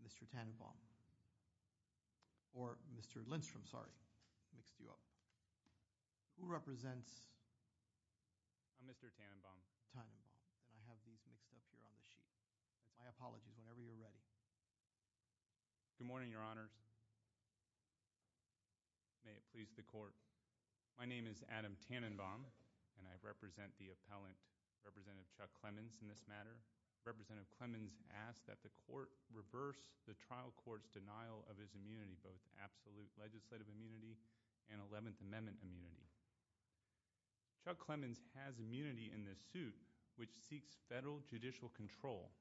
Mr. Tannenbaum. Or Mr. Lindstrom, sorry. Mixed you up. Who represents? I'm Mr. Tannenbaum. Tannenbaum. And I have these mixed up here on the sheet. My apologies whenever you're ready. Good morning, your honors. May it please the court. My name is Adam Tannenbaum and I represent the appellant, Representative Chuck Clemens, in this court's denial of his immunity, both absolute legislative immunity and 11th Amendment immunity. Chuck Clemens has immunity in this suit, which seeks federal judicial control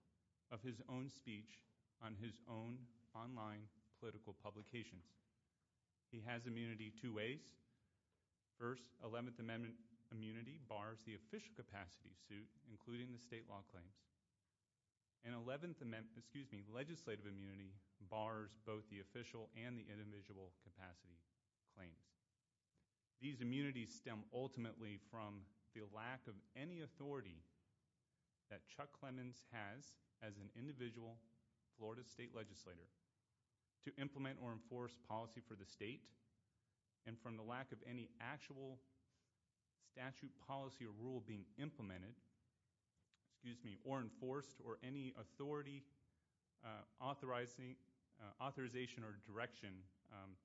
of his own speech on his own online political publications. He has immunity two ways. First, 11th Amendment immunity bars the official capacity suit, including the state law claims. And 11th Amendment, excuse me, legislative immunity bars both the official and the individual capacity claims. These immunities stem ultimately from the lack of any authority that Chuck Clemens has as an individual Florida state legislator to implement or enforce policy for the state, and from the lack of any actual statute policy or implemented, excuse me, or enforced or any authority, authorizing, authorization or direction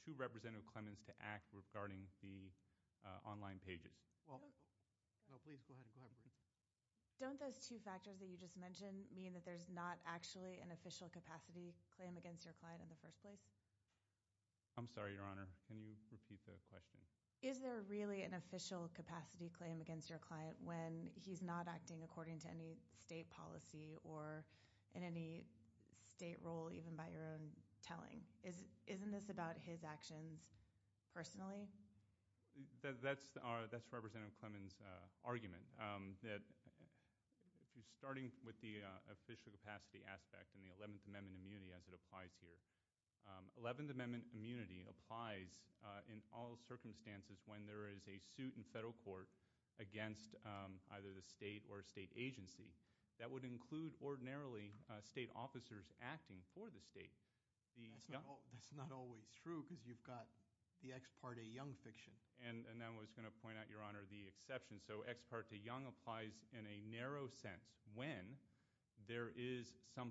to Representative Clemens to act regarding the online pages. Don't those two factors that you just mentioned mean that there's not actually an official capacity claim against your client in the first place? I'm sorry, your honor. Can you repeat the question? Is there really an official capacity claim against your client when he's not acting according to any state policy or in any state role, even by your own telling? Isn't this about his actions personally? That's Representative Clemens' argument, that if you're starting with the official capacity aspect and the 11th Amendment immunity as it applies here, 11th Amendment immunity applies in all circumstances when there is a suit in federal court against either the state or state agency. That would include ordinarily state officers acting for the state. That's not always true because you've got the ex parte young fiction. And I was going to point out, your honor, the exception. So ex parte young applies in a narrow sense when there is some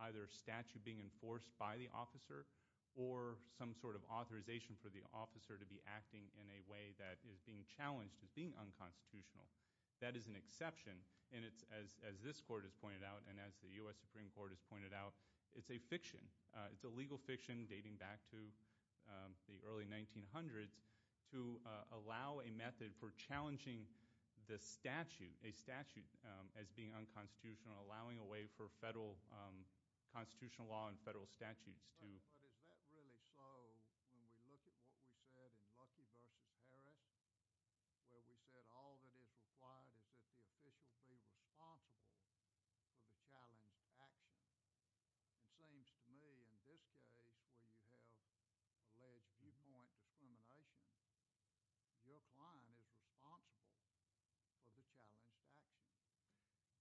either statute being enforced by the state or state agency. It's not a limitation for the officer to be acting in a way that is being challenged as being unconstitutional. That is an exception and it's, as this court has pointed out and as the US Supreme Court has pointed out, it's a fiction. It's a legal fiction dating back to the early 1900s to allow a method for challenging the statute, a statute as being unconstitutional, allowing a way for federal constitutional law and federal statutes to... But is that really so when we look at what we said in Lucky v. Harris, where we said all that is required is that the official be responsible for the challenged action? It seems to me in this case where you have alleged viewpoint discrimination, your client is responsible for the challenged action.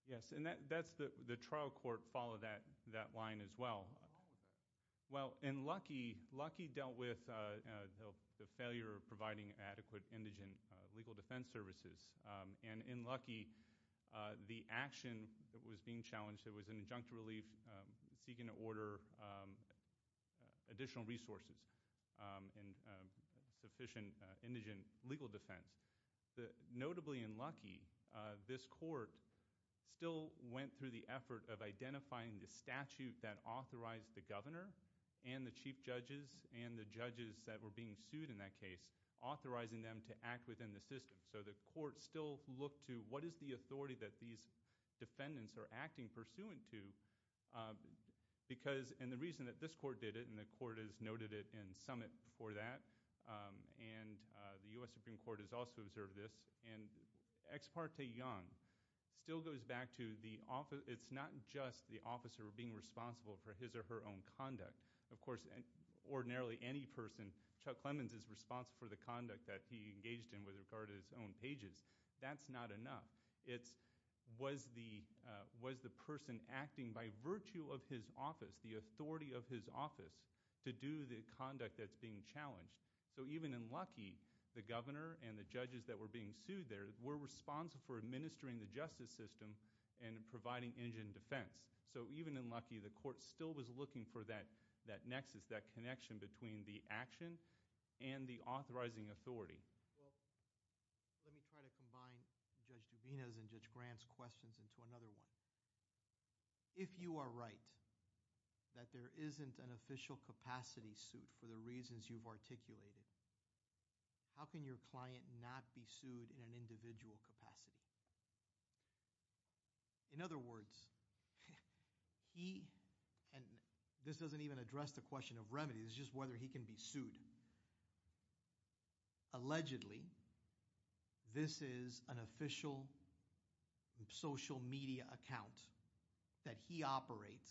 Yes, and that's the trial court followed that line as well. Well in Lucky, Lucky dealt with the failure of providing adequate indigent legal defense services. And in Lucky, the action that was being challenged, there was an injunctive relief seeking to order additional resources and sufficient indigent legal defense. Notably in Lucky, this court still went through the effort of identifying the statute that authorized the governor and the chief judges and the judges that were being sued in that case, authorizing them to act within the system. So the court still looked to what is the authority that these defendants are acting pursuant to because... and the reason that this for that, and the U.S. Supreme Court has also observed this, and Ex Parte Young still goes back to the office... it's not just the officer being responsible for his or her own conduct. Of course, ordinarily any person, Chuck Clemens is responsible for the conduct that he engaged in with regard to his own pages. That's not enough. It's was the person acting by virtue of his office, the being challenged. So even in Lucky, the governor and the judges that were being sued there were responsible for administering the justice system and providing indigent defense. So even in Lucky, the court still was looking for that nexus, that connection between the action and the authorizing authority. Let me try to combine Judge Duvina's and Judge Grant's questions into another one. If you are right that there isn't an official capacity suit for the reasons you've articulated, how can your client not be sued in an individual capacity? In other words, he... and this doesn't even address the question of remedies, it's just whether he can be sued. Allegedly, this is an official social media account that he operates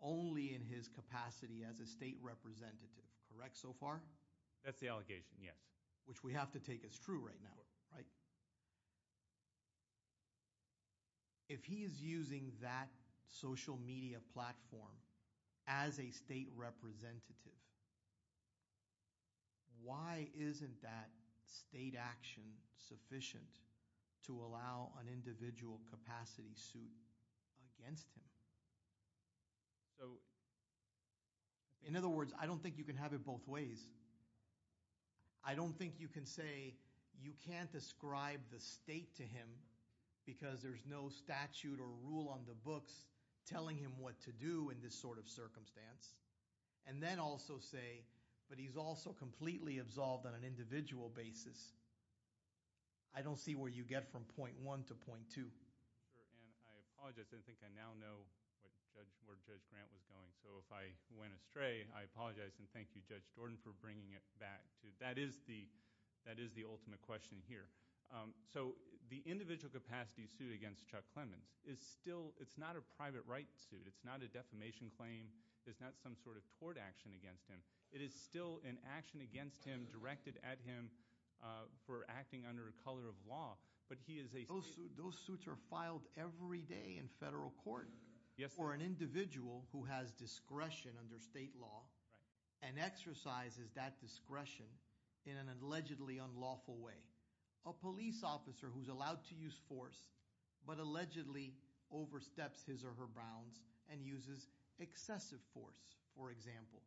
only in his capacity as a state representative, correct so far? That's the allegation, yes. Which we have to take as true right now, right? If he is using that social media platform as a state representative, why isn't that state action sufficient to allow an individual capacity suit against him? So in other words, I don't think you can have it both ways. I don't think you can say you can't ascribe the state to him because there's no statute or rule on the books telling him what to do in this sort of circumstance, and then also say, but he's also completely absolved on an individual basis. I don't see where you get from point one to point two. And I apologize, I think I now know where Judge Grant was going, so if I went astray, I apologize and thank you, Judge Jordan, for bringing it back to... that is the ultimate question here. So the individual capacity suit against Chuck Clemens is still... it's not a private rights suit, it's not a defamation claim, it's not some sort of tort action against him. It is still an action against him directed at him for acting under a color of law, but he is a... Those suits are filed every day in federal court for an individual who has discretion in an allegedly unlawful way. A police officer who's allowed to use force, but allegedly oversteps his or her bounds and uses excessive force, for example.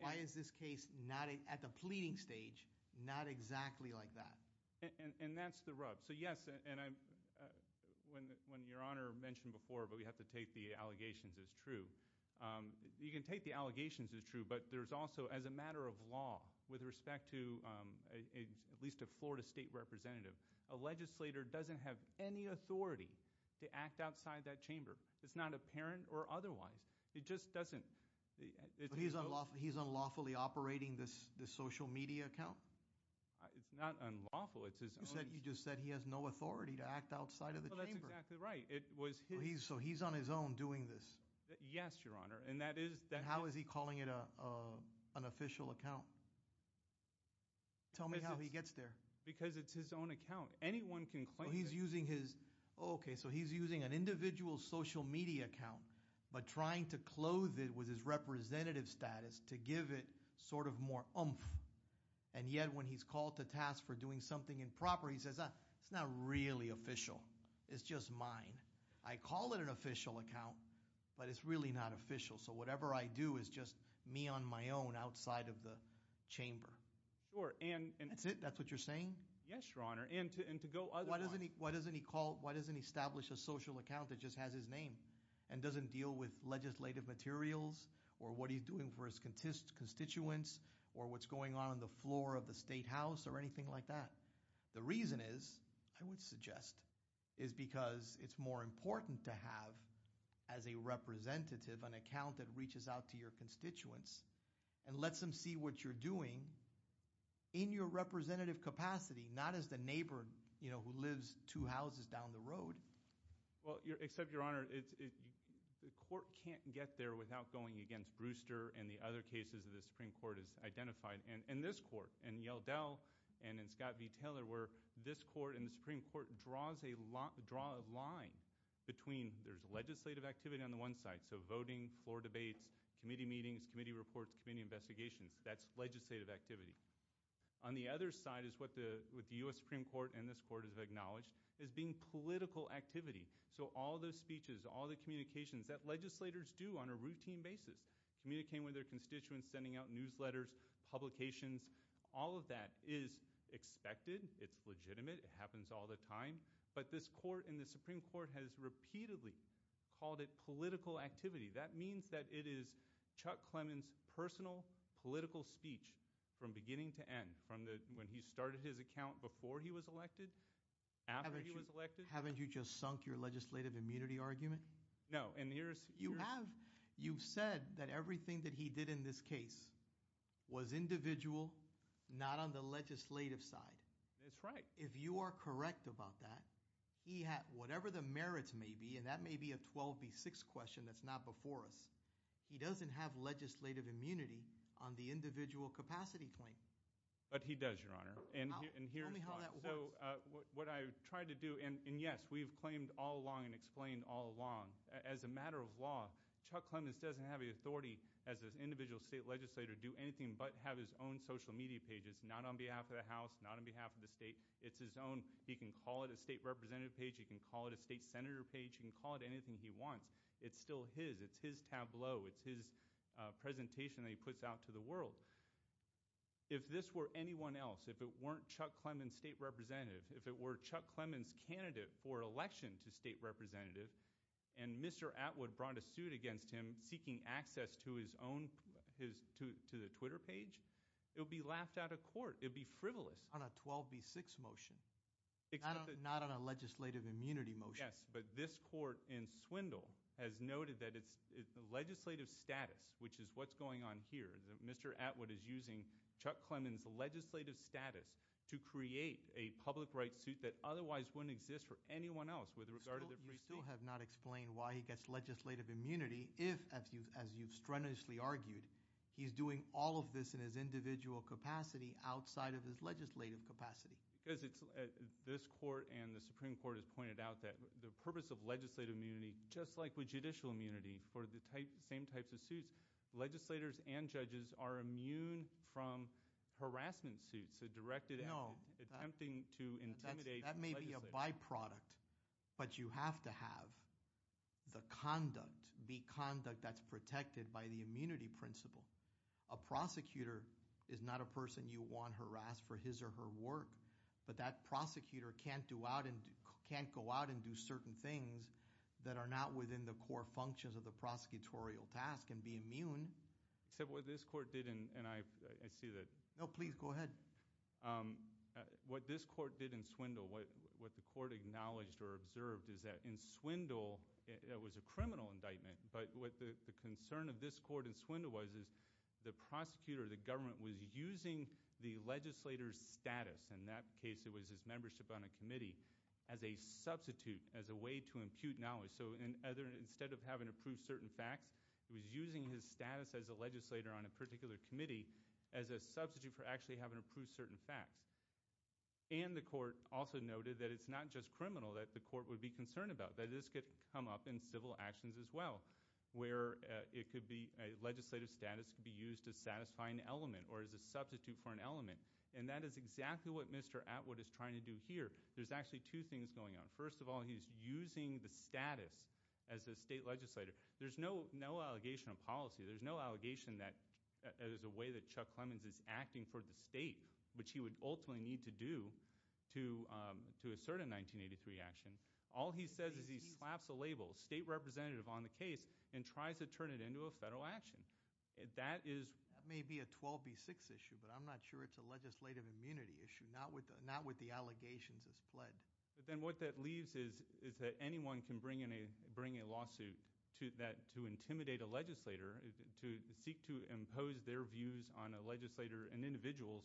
Why is this case not, at the pleading stage, not exactly like that? And that's the rub. So yes, and I'm... when Your Honor mentioned before, but we have to take the allegations as true, you can take the allegations as true, but there's also, as a matter of law, with respect to at least a Florida state representative, a legislator doesn't have any authority to act outside that chamber. It's not apparent or otherwise. It just doesn't... He's unlawfully operating this social media account? It's not unlawful, it's his own... You just said he has no authority to act outside of the chamber. That's exactly right. It was... So he's on his own doing this? Yes, Your Honor, and that is... How is he calling it a an official account? Tell me how he gets there. Because it's his own account. Anyone can claim... He's using his... Okay, so he's using an individual social media account, but trying to clothe it with his representative status to give it sort of more oomph, and yet when he's called to task for doing something improper, he says, ah, it's not really official. It's just mine. I call it an official account, but it's really not official. So whatever I do is just me on my own outside of the chamber. Sure, and... That's it? That's what you're saying? Yes, Your Honor, and to go... Why doesn't he call... Why doesn't he establish a social account that just has his name and doesn't deal with legislative materials or what he's doing for his constituents or what's going on on the floor of the State House or anything like that? The reason is, I would suggest, is because it's more important to have as a representative an account that lets them see what you're doing in your representative capacity, not as the neighbor, you know, who lives two houses down the road. Well, except, Your Honor, the court can't get there without going against Brewster and the other cases that the Supreme Court has identified, and this court, and Yeldell, and in Scott v. Taylor, where this court and the Supreme Court draws a lot... draw a line between... There's legislative activity on the one side, so committee investigations. That's legislative activity. On the other side is what the U.S. Supreme Court and this court have acknowledged as being political activity, so all those speeches, all the communications that legislators do on a routine basis, communicating with their constituents, sending out newsletters, publications, all of that is expected. It's legitimate. It happens all the time, but this court and the Supreme Court has repeatedly called it political activity. That means that it is Chuck Clemons' personal political speech from beginning to end, from the... when he started his account before he was elected, after he was elected. Haven't you just sunk your legislative immunity argument? No, and here's... You have. You've said that everything that he did in this case was individual, not on the legislative side. That's right. If you are correct about that, he had... whatever the merits may be, and that may be a 12 v. 6 question that's not before us. He doesn't have legislative immunity on the individual capacity claim. But he does, Your Honor, and here's... So what I tried to do, and yes, we've claimed all along and explained all along, as a matter of law, Chuck Clemons doesn't have the authority as an individual state legislator to do anything but have his own social media pages, not on behalf of the House, not on behalf of the state. It's his own. He can call it a state representative page. He can call it a state senator page. He can call it anything he wants. It's still his. It's his tableau. It's his presentation that he puts out to the world. If this were anyone else, if it weren't Chuck Clemons' state representative, if it were Chuck Clemons' candidate for election to state representative, and Mr. Atwood brought a suit against him seeking access to his own... his... to the Twitter page, it would be laughed out of court. It would be frivolous. On a 12 v. 6 motion, not on a legislative immunity motion. Yes, but this court in Swindle has noted that it's the legislative status, which is what's going on here, that Mr. Atwood is using Chuck Clemons' legislative status to create a public rights suit that otherwise wouldn't exist for anyone else with regard to... You still have not explained why he gets legislative immunity if, as you've strenuously argued, he's doing all of this in his individual capacity outside of his legislative capacity. Because it's... this Supreme Court has pointed out that the purpose of legislative immunity, just like with judicial immunity for the same types of suits, legislators and judges are immune from harassment suits, so directed at attempting to intimidate... That may be a byproduct, but you have to have the conduct, the conduct that's protected by the immunity principle. A prosecutor is not a person you want to harass for his or her work, but that prosecutor can't go out and do certain things that are not within the core functions of the prosecutorial task and be immune. Except what this court did in... and I see that... No, please go ahead. What this court did in Swindle, what the court acknowledged or observed is that in Swindle, it was a criminal indictment, but what the concern of this court in that case, it was his membership on a committee as a substitute, as a way to impute knowledge. So instead of having to prove certain facts, it was using his status as a legislator on a particular committee as a substitute for actually having to prove certain facts. And the court also noted that it's not just criminal that the court would be concerned about, that this could come up in civil actions as well, where it could be... legislative status could be used to And that is exactly what Mr. Atwood is trying to do here. There's actually two things going on. First of all, he's using the status as a state legislator. There's no, no allegation of policy. There's no allegation that it is a way that Chuck Clemons is acting for the state, which he would ultimately need to do to, to assert a 1983 action. All he says is he slaps a label, state representative on the case, and tries to turn it into a federal action. That is... That may be a 12b6 issue, but I'm not sure it's a legislative immunity issue, not with, not with the allegations as pled. But then what that leaves is, is that anyone can bring in a, bring a lawsuit to that, to intimidate a legislator, to seek to impose their views on a legislator, an individual's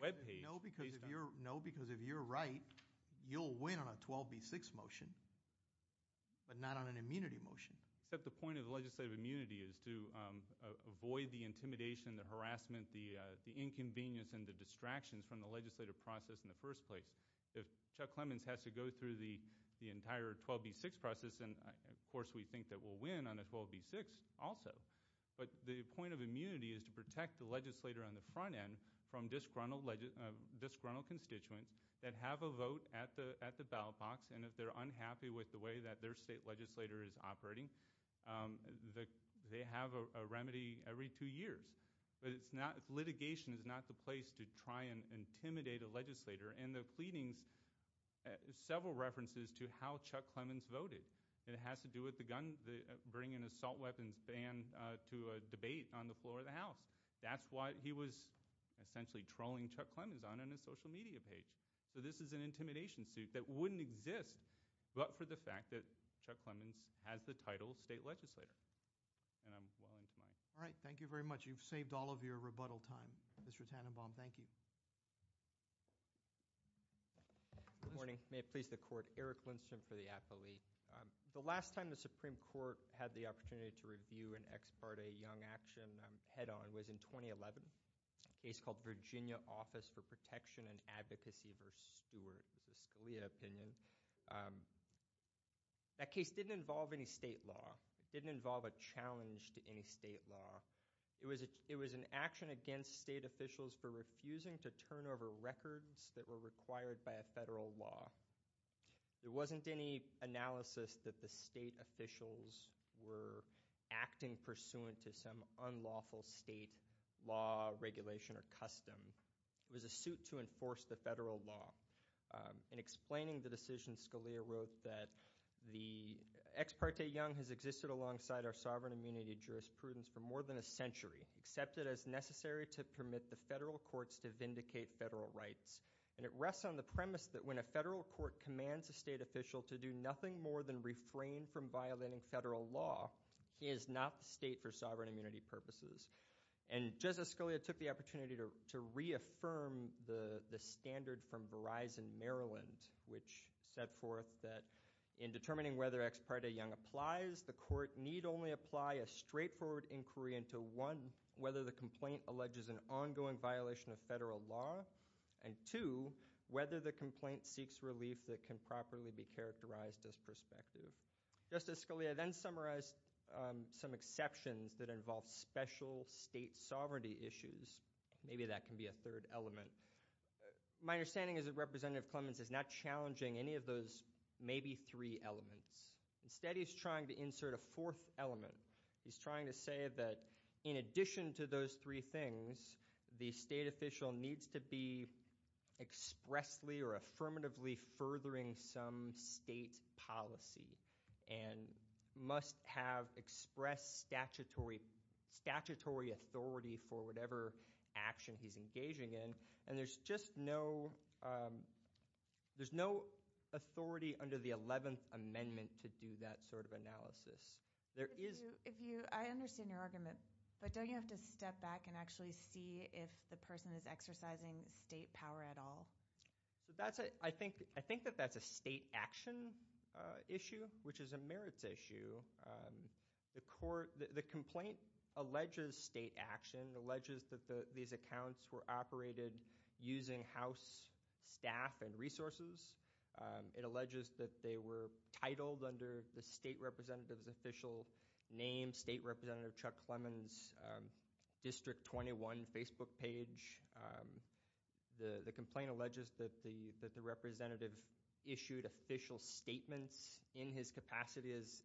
webpage. No, because if you're, no, because if you're right, you'll win on a 12b6 motion, but not on an immunity motion. Except the point of legislative immunity is to avoid the intimidation, the inconvenience, and the distractions from the legislative process in the first place. If Chuck Clemons has to go through the, the entire 12b6 process, then of course we think that we'll win on a 12b6 also. But the point of immunity is to protect the legislator on the front end from disgruntled, disgruntled constituents that have a vote at the, at the ballot box, and if they're unhappy with the way that their state legislator is operating, the, they have a, a remedy every two years. But it's not, litigation is not the place to try and intimidate a legislator. And the pleadings, several references to how Chuck Clemons voted. It has to do with the gun, the bringing an assault weapons ban to a debate on the floor of the House. That's why he was essentially trolling Chuck Clemons on, on his social media page. So this is an intimidation suit that wouldn't exist but for the fact that Chuck Clemons has the title state legislator. And I'm well into my. All right, thank you very much. You've saved all of your rebuttal time. Mr. Tannenbaum, thank you. Good morning. May it please the court. Eric Lindstrom for the appellee. The last time the Supreme Court had the opportunity to review an ex parte young action head-on was in 2011. A case called Virginia Office for Protection and Advocacy versus Stewart. It was a Scalia opinion. That case didn't involve any state law. It didn't involve a challenge to any state law. It was, it was an action against state officials for refusing to turn over records that were required by a federal law. There wasn't any analysis that the state officials were acting pursuant to some unlawful state law, regulation, or custom. It was a suit to enforce the federal law. In explaining the decision, Scalia wrote that the ex parte young has existed alongside our sovereign immunity jurisprudence for more than a century. Accepted as necessary to permit the federal courts to vindicate federal rights. And it rests on the premise that when a federal court commands a state official to do nothing more than refrain from violating federal law, he is not the state for sovereign immunity purposes. And Justice Scalia took the opportunity to reaffirm the the standard from In determining whether ex parte young applies, the court need only apply a straightforward inquiry into one, whether the complaint alleges an ongoing violation of federal law, and two, whether the complaint seeks relief that can properly be characterized as prospective. Justice Scalia then summarized some exceptions that involve special state sovereignty issues. Maybe that can be a third element. My understanding is that Representative Clements is not trying to insert any three elements. Instead, he's trying to insert a fourth element. He's trying to say that in addition to those three things, the state official needs to be expressly or affirmatively furthering some state policy, and must have expressed statutory authority for whatever action he's engaging in. And there's just no, there's no authority under the 11th Amendment to do that sort of analysis. I understand your argument, but don't you have to step back and actually see if the person is exercising state power at all? So that's it. I think that that's a state action issue, which is a merits issue. The complaint alleges state action, alleges that these accounts were operated using House staff and alleges that they were titled under the state representative's official name, State Representative Chuck Clements, District 21 Facebook page. The complaint alleges that the representative issued official statements in his capacity as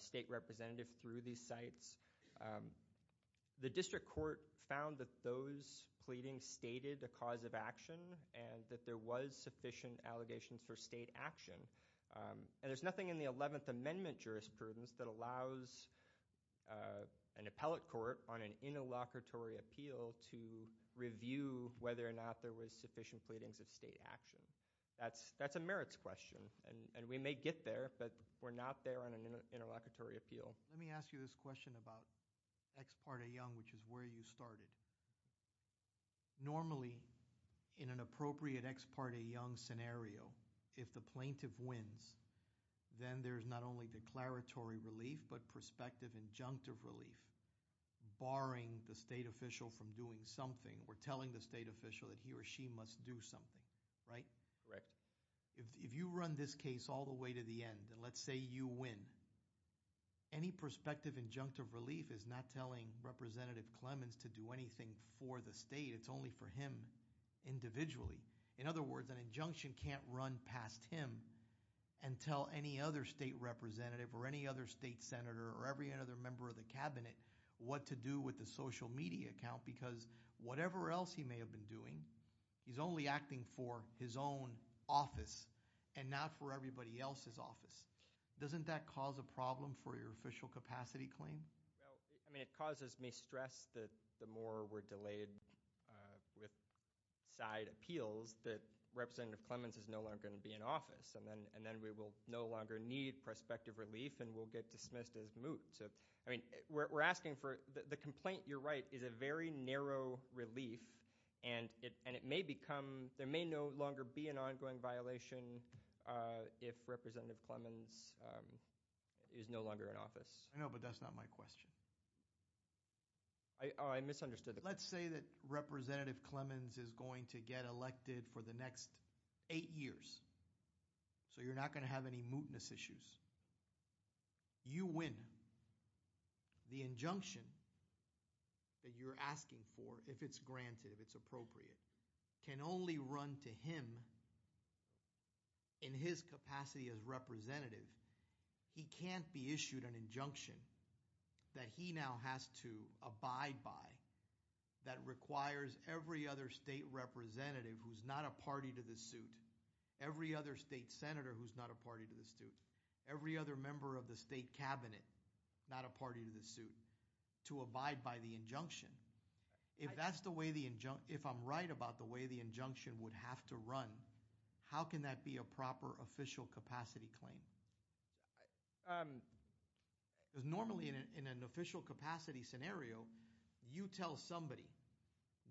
state representative through these sites. The district court found that those pleadings stated a cause of action and that there was sufficient allegations for state action. And there's nothing in the 11th Amendment jurisprudence that allows an appellate court on an interlocutory appeal to review whether or not there was sufficient pleadings of state action. That's a merits question, and we may get there, but we're not there on an interlocutory appeal. Let me ask you this question about Ex parte Young, which is where you started. Normally, in an appropriate Ex parte Young scenario, if the plaintiff wins, then there's not only declaratory relief, but prospective injunctive relief, barring the state official from doing something or telling the state official that he or she must do something, right? Correct. If you run this case all the way to the end, and let's say you win, any prospective injunctive relief is not telling Representative Clemens to do anything for the state. It's only for him individually. In other words, an injunction can't run past him and tell any other state representative or any other state senator or every other member of the cabinet what to do with the social media account, because whatever else he may have been doing, he's only acting for his own office and not for everybody else's office. Doesn't that cause a problem for your official capacity claim? I mean, it causes me stress that the more we're delayed with side appeals, that Representative Clemens is no longer going to be in office, and then we will no longer need prospective relief, and we'll get dismissed as moot. So, I mean, we're asking for—the complaint, you're right, is a very narrow relief, and it may become—there may no longer be an ongoing violation if Representative Clemens is no longer in office. I know, but that's not my question. I misunderstood. Let's say that Representative Clemens is going to get elected for the next eight years, so you're not going to have any mootness issues. You win. The injunction that you're asking for, if it's granted, if it's appropriate, can only run to him in his capacity as representative. He can't be issued an injunction that he now has to abide by that requires every other state representative who's not a party to the suit, every other state senator who's not a party to the suit, every other member of the state cabinet not a party to the suit, to abide by the injunction. If that's the way the injunction—if I'm right about the way the injunction is run, how can that be a proper official capacity claim? Because normally in an official capacity scenario, you tell somebody,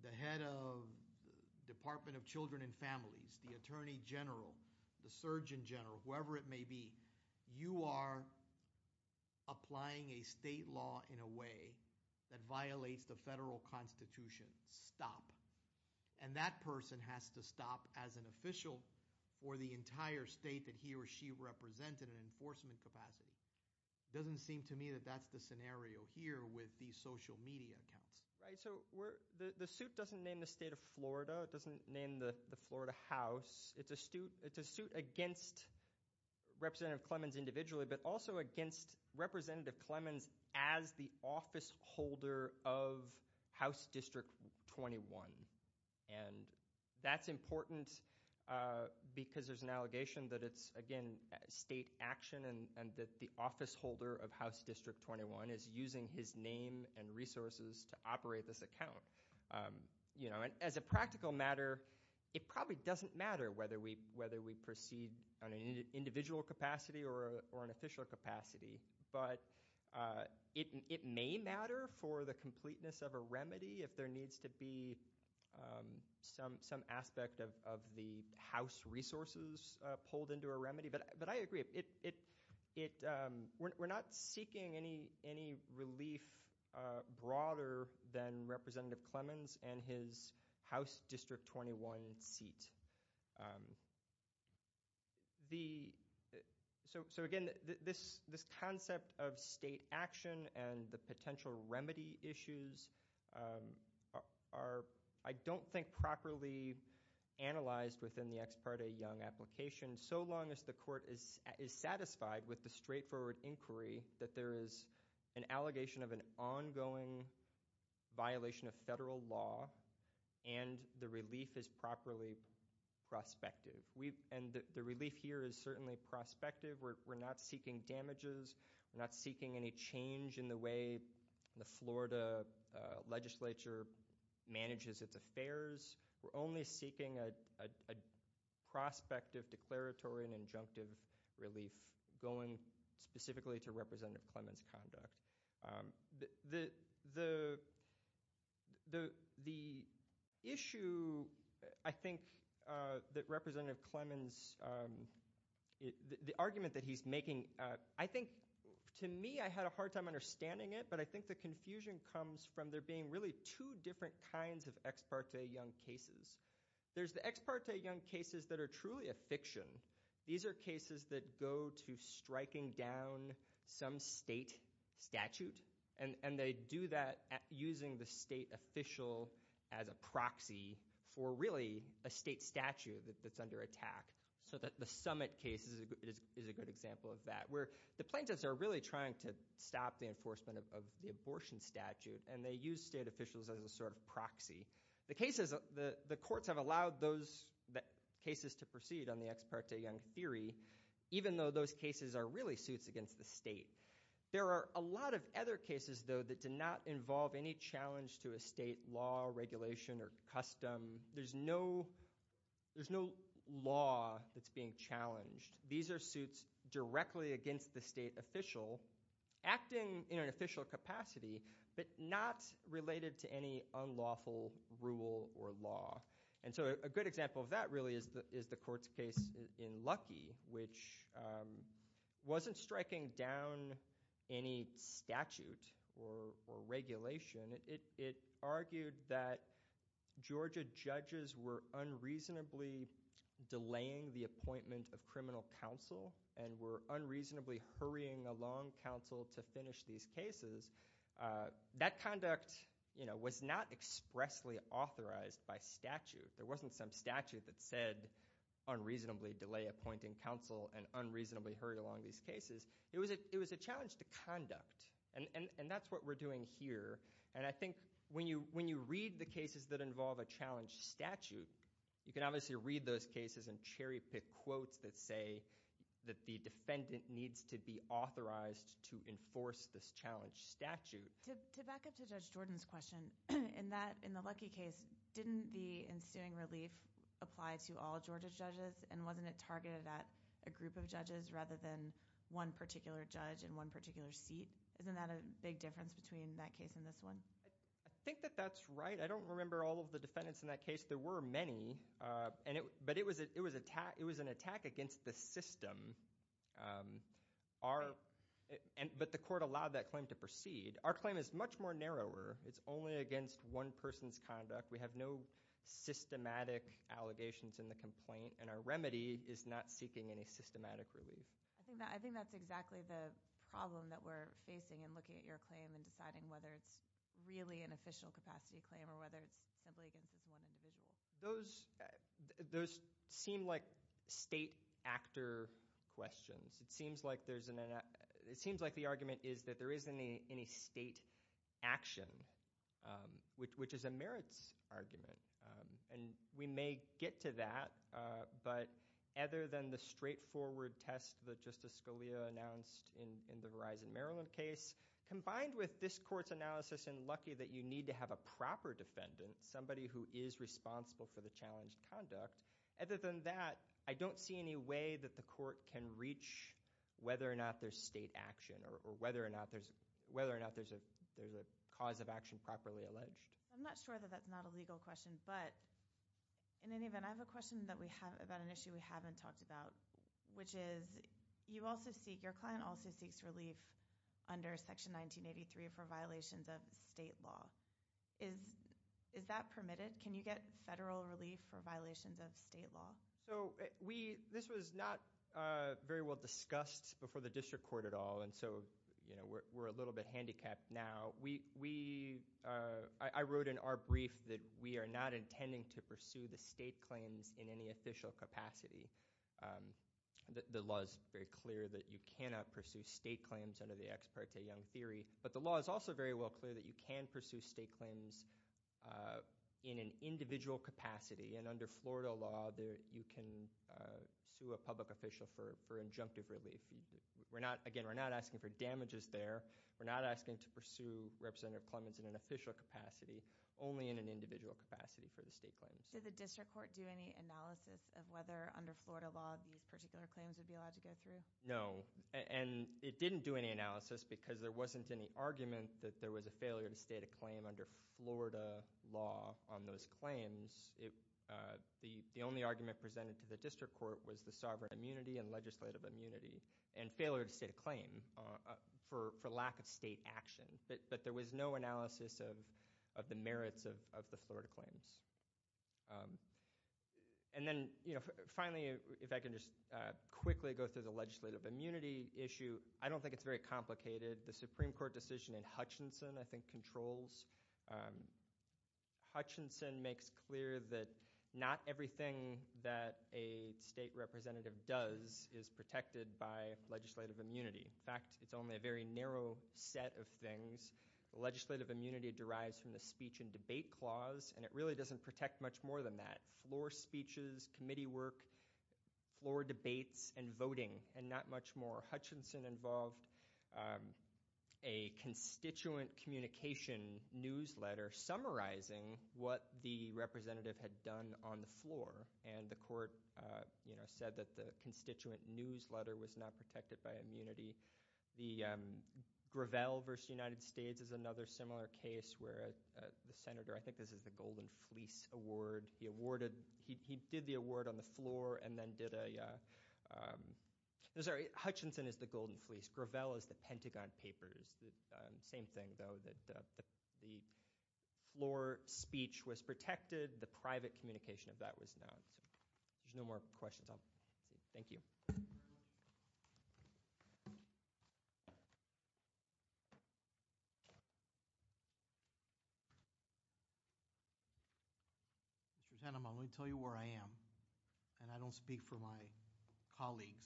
the head of the Department of Children and Families, the Attorney General, the Surgeon General, whoever it may be, you are applying a state law in a way that violates the federal Constitution. Stop. And that person has to stop as an official for the entire state that he or she represented in an enforcement capacity. Doesn't seem to me that that's the scenario here with these social media accounts. Right, so the suit doesn't name the state of Florida. It doesn't name the Florida House. It's a suit against Representative Clemons individually, but also against Representative Clemons as the office holder of House District 21. And that's important because there's an allegation that it's, again, state action and that the office holder of House District 21 is using his name and resources to operate this account. You know, as a practical matter, it probably doesn't matter whether we proceed on an individual capacity or an official capacity, but it may matter for the completeness of a remedy if there needs to be some aspect of the House resources pulled into a remedy. But I agree. We're not seeking any relief broader than Representative Clemons and his House District 21 seat. So again, this concept of state action and the potential remedy issues are, I don't think, properly analyzed within the Ex Parte Young application, so long as the court is satisfied with the straightforward inquiry that there is an allegation of an ongoing violation of federal law and the relief is properly prospective. And the relief here is certainly prospective. We're not seeking damages. We're not seeking any change in the way the Florida legislature manages its affairs. We're only seeking a prospective declaratory and injunctive relief going specifically to Representative Clemons' conduct. The issue, I think, that Representative Clemons, the argument that he's making, I think, to me, I had a hard time understanding it, but I think the confusion comes from there being really two different kinds of Ex Parte Young cases. There's the Ex Parte Young cases that are truly a fiction. These are cases that go to striking down some state statute, and they do that using the state official as a proxy for, really, a state statute that's under attack, so that the Summit case is a good example of that, where the plaintiffs are really trying to stop the enforcement of the abortion statute, and they use state officials as a sort of proxy. The courts have allowed those cases to proceed on the Ex Parte Young theory, even though those cases are really suits against the state. There are a lot of other cases, though, that do not involve any challenge to a state law, regulation, or custom. There's no law that's being challenged. These are suits directly against the state official, acting in an official capacity, but not related to any unlawful rule or law, and so a good example of that, really, is the court's case in Luckey, which wasn't striking down any statute or regulation. It argued that Georgia judges were unreasonably delaying the appointment of criminal counsel and were unreasonably hurrying along counsel to finish these cases. That conduct, you know, was not expressly authorized by statute. There wasn't some statute that said, unreasonably delay appointing counsel and unreasonably hurry along these cases. It was a challenge to conduct, and that's what we're doing here, and I think when you read the cases that involve a challenge statute, you can obviously read those cases and cherry-pick quotes that say that the defendant needs to be authorized to enforce this challenge statute. To back up to Judge Jordan's question, in the Luckey case, didn't the ensuing relief apply to all Georgia judges, and wasn't it targeted at a group of judges rather than one particular judge in one particular seat? Isn't that a big difference between that case and this one? I think that that's right. I don't remember all of the defendants in that case. There were many, but it was an attack against the system, but the court allowed that claim to proceed. Our claim is much more narrower. It's only against one person's conduct. We have no systematic allegations in the complaint, and our remedy is not seeking any systematic relief. I think that's exactly the problem that we're facing in looking at your claim and deciding whether it's really an official capacity claim or whether it's simply against this one individual. Those seem like state actor questions. It seems like the argument is that there isn't any state action, which is a merits argument. We may get to that, but other than the straightforward test that Justice Scalia announced in the Verizon Maryland case, combined with this court's analysis in Luckey that you need to have a proper defendant, somebody who is responsible for the challenged conduct, other than that, I don't see any way that the court can reach whether or not there's state action or whether or not there's a cause of action properly alleged. I'm not sure that that's not a legal question, but in any event, I have a question about an issue we haven't talked about, which is your client also seeks relief under Section 1983 for violations of state law. Is that permitted? Can you get federal relief for violations of state law? This was not very well discussed before the district court at all, and so we're a little bit handicapped now. I wrote in our brief that we are not intending to pursue the state claims in any official capacity. The law is very clear that you cannot pursue state claims under the Ex Parte Young Theory, but the law is also very well clear that you can pursue state claims in an official capacity, but you can sue a public official for injunctive relief. Again, we're not asking for damages there. We're not asking to pursue Representative Clements in an official capacity, only in an individual capacity for the state claims. Did the district court do any analysis of whether under Florida law these particular claims would be allowed to go through? No, and it didn't do any analysis because there wasn't any argument that there was a failure to state a claim under Florida law on those claims. The only argument presented to the district court was the sovereign immunity and legislative immunity, and failure to state a claim for lack of state action, but there was no analysis of the merits of the Florida claims, and then, you know, finally, if I can just quickly go through the legislative immunity issue, I don't think it's very complicated. The Supreme Court decision in Hutchinson, I think, controls. Hutchinson makes clear that not everything that a state representative does is protected by legislative immunity. In fact, it's only a very narrow set of things. Legislative immunity derives from the speech and debate clause, and it really doesn't protect much more than that. Floor speeches, committee work, floor debates, and voting, and not much more. Hutchinson involved a constituent communication newsletter summarizing what the representative had done on the floor, and the court, you know, said that the constituent newsletter was not protected by immunity. The Gravel versus the United States is another similar case where the senator, I think this is the Golden Fleece Award, he awarded, he did the award on the sorry, Hutchinson is the Golden Fleece, Gravel is the Pentagon Papers. The same thing, though, that the floor speech was protected, the private communication of that was not. There's no more questions. Thank you. Mr. Teneman, let me tell you where I am, and I don't speak for my colleagues.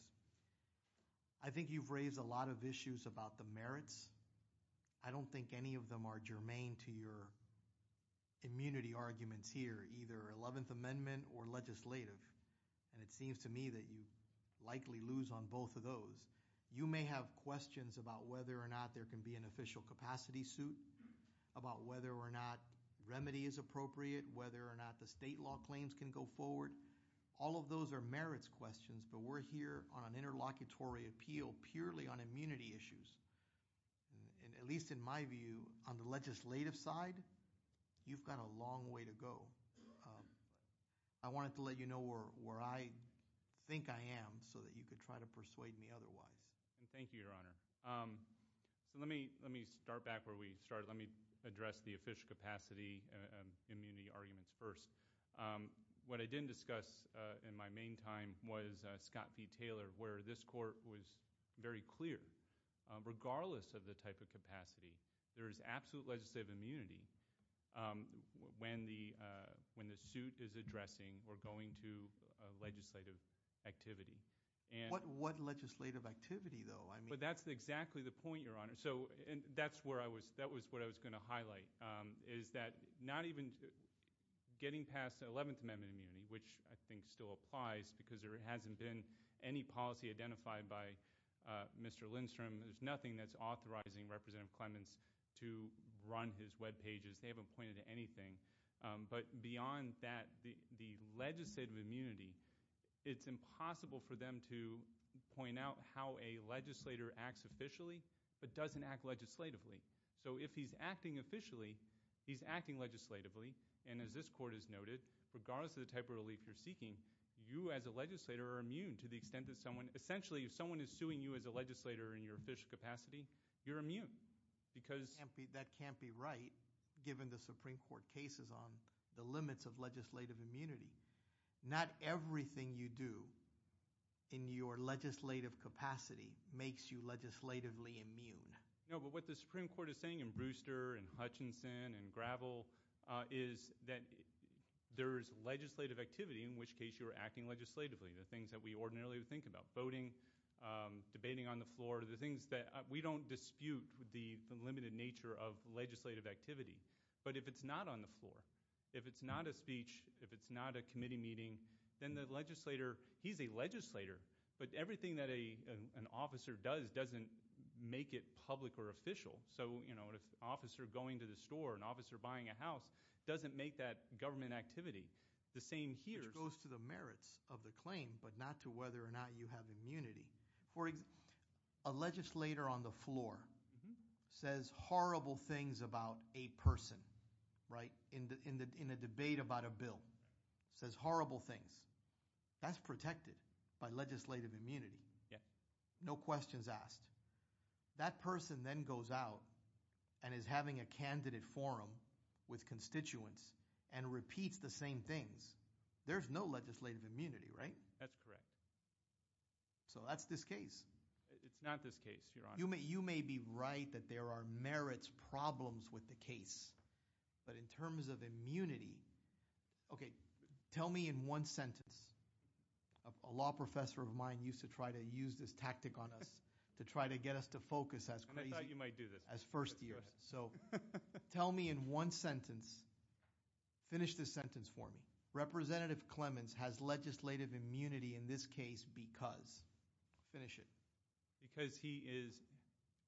I think you've raised a lot of issues about the merits. I don't think any of them are germane to your immunity arguments here, either Eleventh Amendment or legislative, and it seems to me that you likely lose on both of those. You may have questions about whether or not there can be an official capacity suit, about whether or not remedy is appropriate, whether or not the state law claims can go forward. All of those are merits questions, but we're here on an interlocutory appeal purely on immunity issues, and at least in my view, on the legislative side, you've got a long way to go. I wanted to let you know where I think I am so that you could try to persuade me otherwise. Thank you, Your Honor. So let me start back where we started. Let me address the official capacity and immunity arguments first. What I didn't discuss in my main time was Scott v. Taylor, where this court was very clear, regardless of the type of capacity, there is absolute legislative immunity when the suit is addressing or going to a legislative activity. What legislative activity, though? That's exactly the point, Your Honor, and that's where I was going to highlight, is that not even getting past the Eleventh Amendment immunity, which I think still applies because there hasn't been any policy identified by Mr. Lindstrom, there's nothing that's authorizing Representative Clements to run his webpages, they haven't pointed to anything. But beyond that, the legislative immunity, it's impossible for them to point out how a legislator acts officially but doesn't act legislatively. So if he's acting officially, he's acting legislatively, and as this court has noted, regardless of the type of relief you're seeking, you as a legislator are immune to the extent that someone, essentially, if he's a legislator in your official capacity, you're immune. That can't be right, given the Supreme Court cases on the limits of legislative immunity. Not everything you do in your legislative capacity makes you legislatively immune. No, but what the Supreme Court is saying in Brewster and Hutchinson and Gravel is that there's legislative activity, in which case you're acting legislatively. The things that we ordinarily would think about, voting, debating on the floor, the things that, we don't dispute the limited nature of legislative activity. But if it's not on the floor, if it's not a speech, if it's not a committee meeting, then the legislator, he's a legislator, but everything that an officer does doesn't make it public or official. So an officer going to the store, an officer buying a house, doesn't make that government activity. The same here goes to the merits of the claim, but not to whether or not you have immunity. For example, a legislator on the floor says horrible things about a person, right? In a debate about a bill, says horrible things. That's protected by legislative immunity. No questions asked. That person then goes out and is having a candidate forum with constituents and repeats the same things. There's no legislative immunity, right? That's correct. So that's this case. It's not this case, Your Honor. You may be right that there are merits problems with the case, but in terms of immunity, okay, tell me in one sentence, a law professor of mine used to try to use this tactic on us to try to get us to focus as crazy. I thought you might do this. So tell me in one sentence, finish this sentence for me. Representative Clemens has legislative immunity in this case because, finish it. Because he is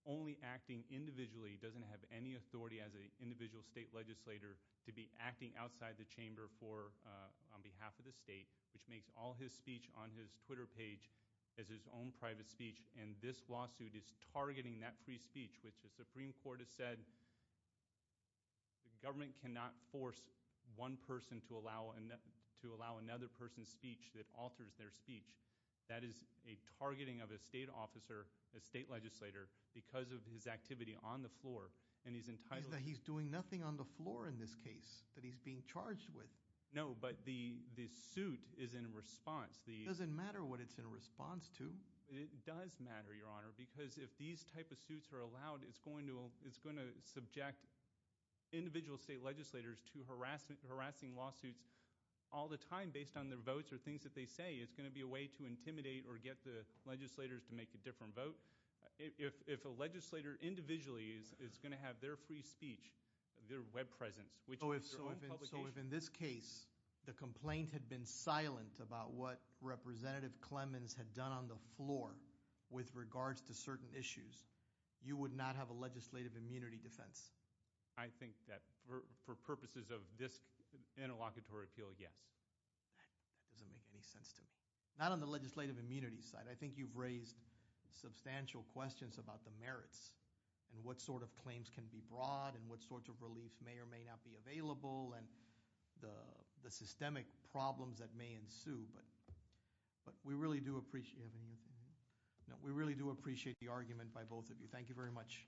only acting individually, doesn't have any authority as an individual state legislator to be acting outside the chamber on behalf of the state, which makes all his speech on his Twitter page as his own private speech. And this lawsuit is targeting that free speech, which the Supreme Court has said the government cannot force one person to allow another person's speech that alters their speech. That is a targeting of a state officer, a state legislator, because of his activity on the floor. And he's doing nothing on the floor in this case that he's being charged with. No, but the suit is in response. It doesn't matter what it's in response to. It does matter, Your Honor, because if these type of suits are allowed, it's going to subject individual state legislators to harassing lawsuits all the time based on their votes or things that they say. It's going to be a way to intimidate or get the legislators to make a different vote. If a legislator individually is going to have their free speech, their web presence, which is their own publication. So if in this case, the complaint had been silent about what Representative Clemens had done on the floor with regards to certain issues, you would not have a legislative immunity defense. I think that for purposes of this interlocutory appeal, yes. That doesn't make any sense to me. Not on the legislative immunity side. I think you've raised substantial questions about the merits and what sort of claims can be brought and what sorts of reliefs may or may not be available and the systemic problems that may ensue. But we really do appreciate the argument by both of you. Thank you very much.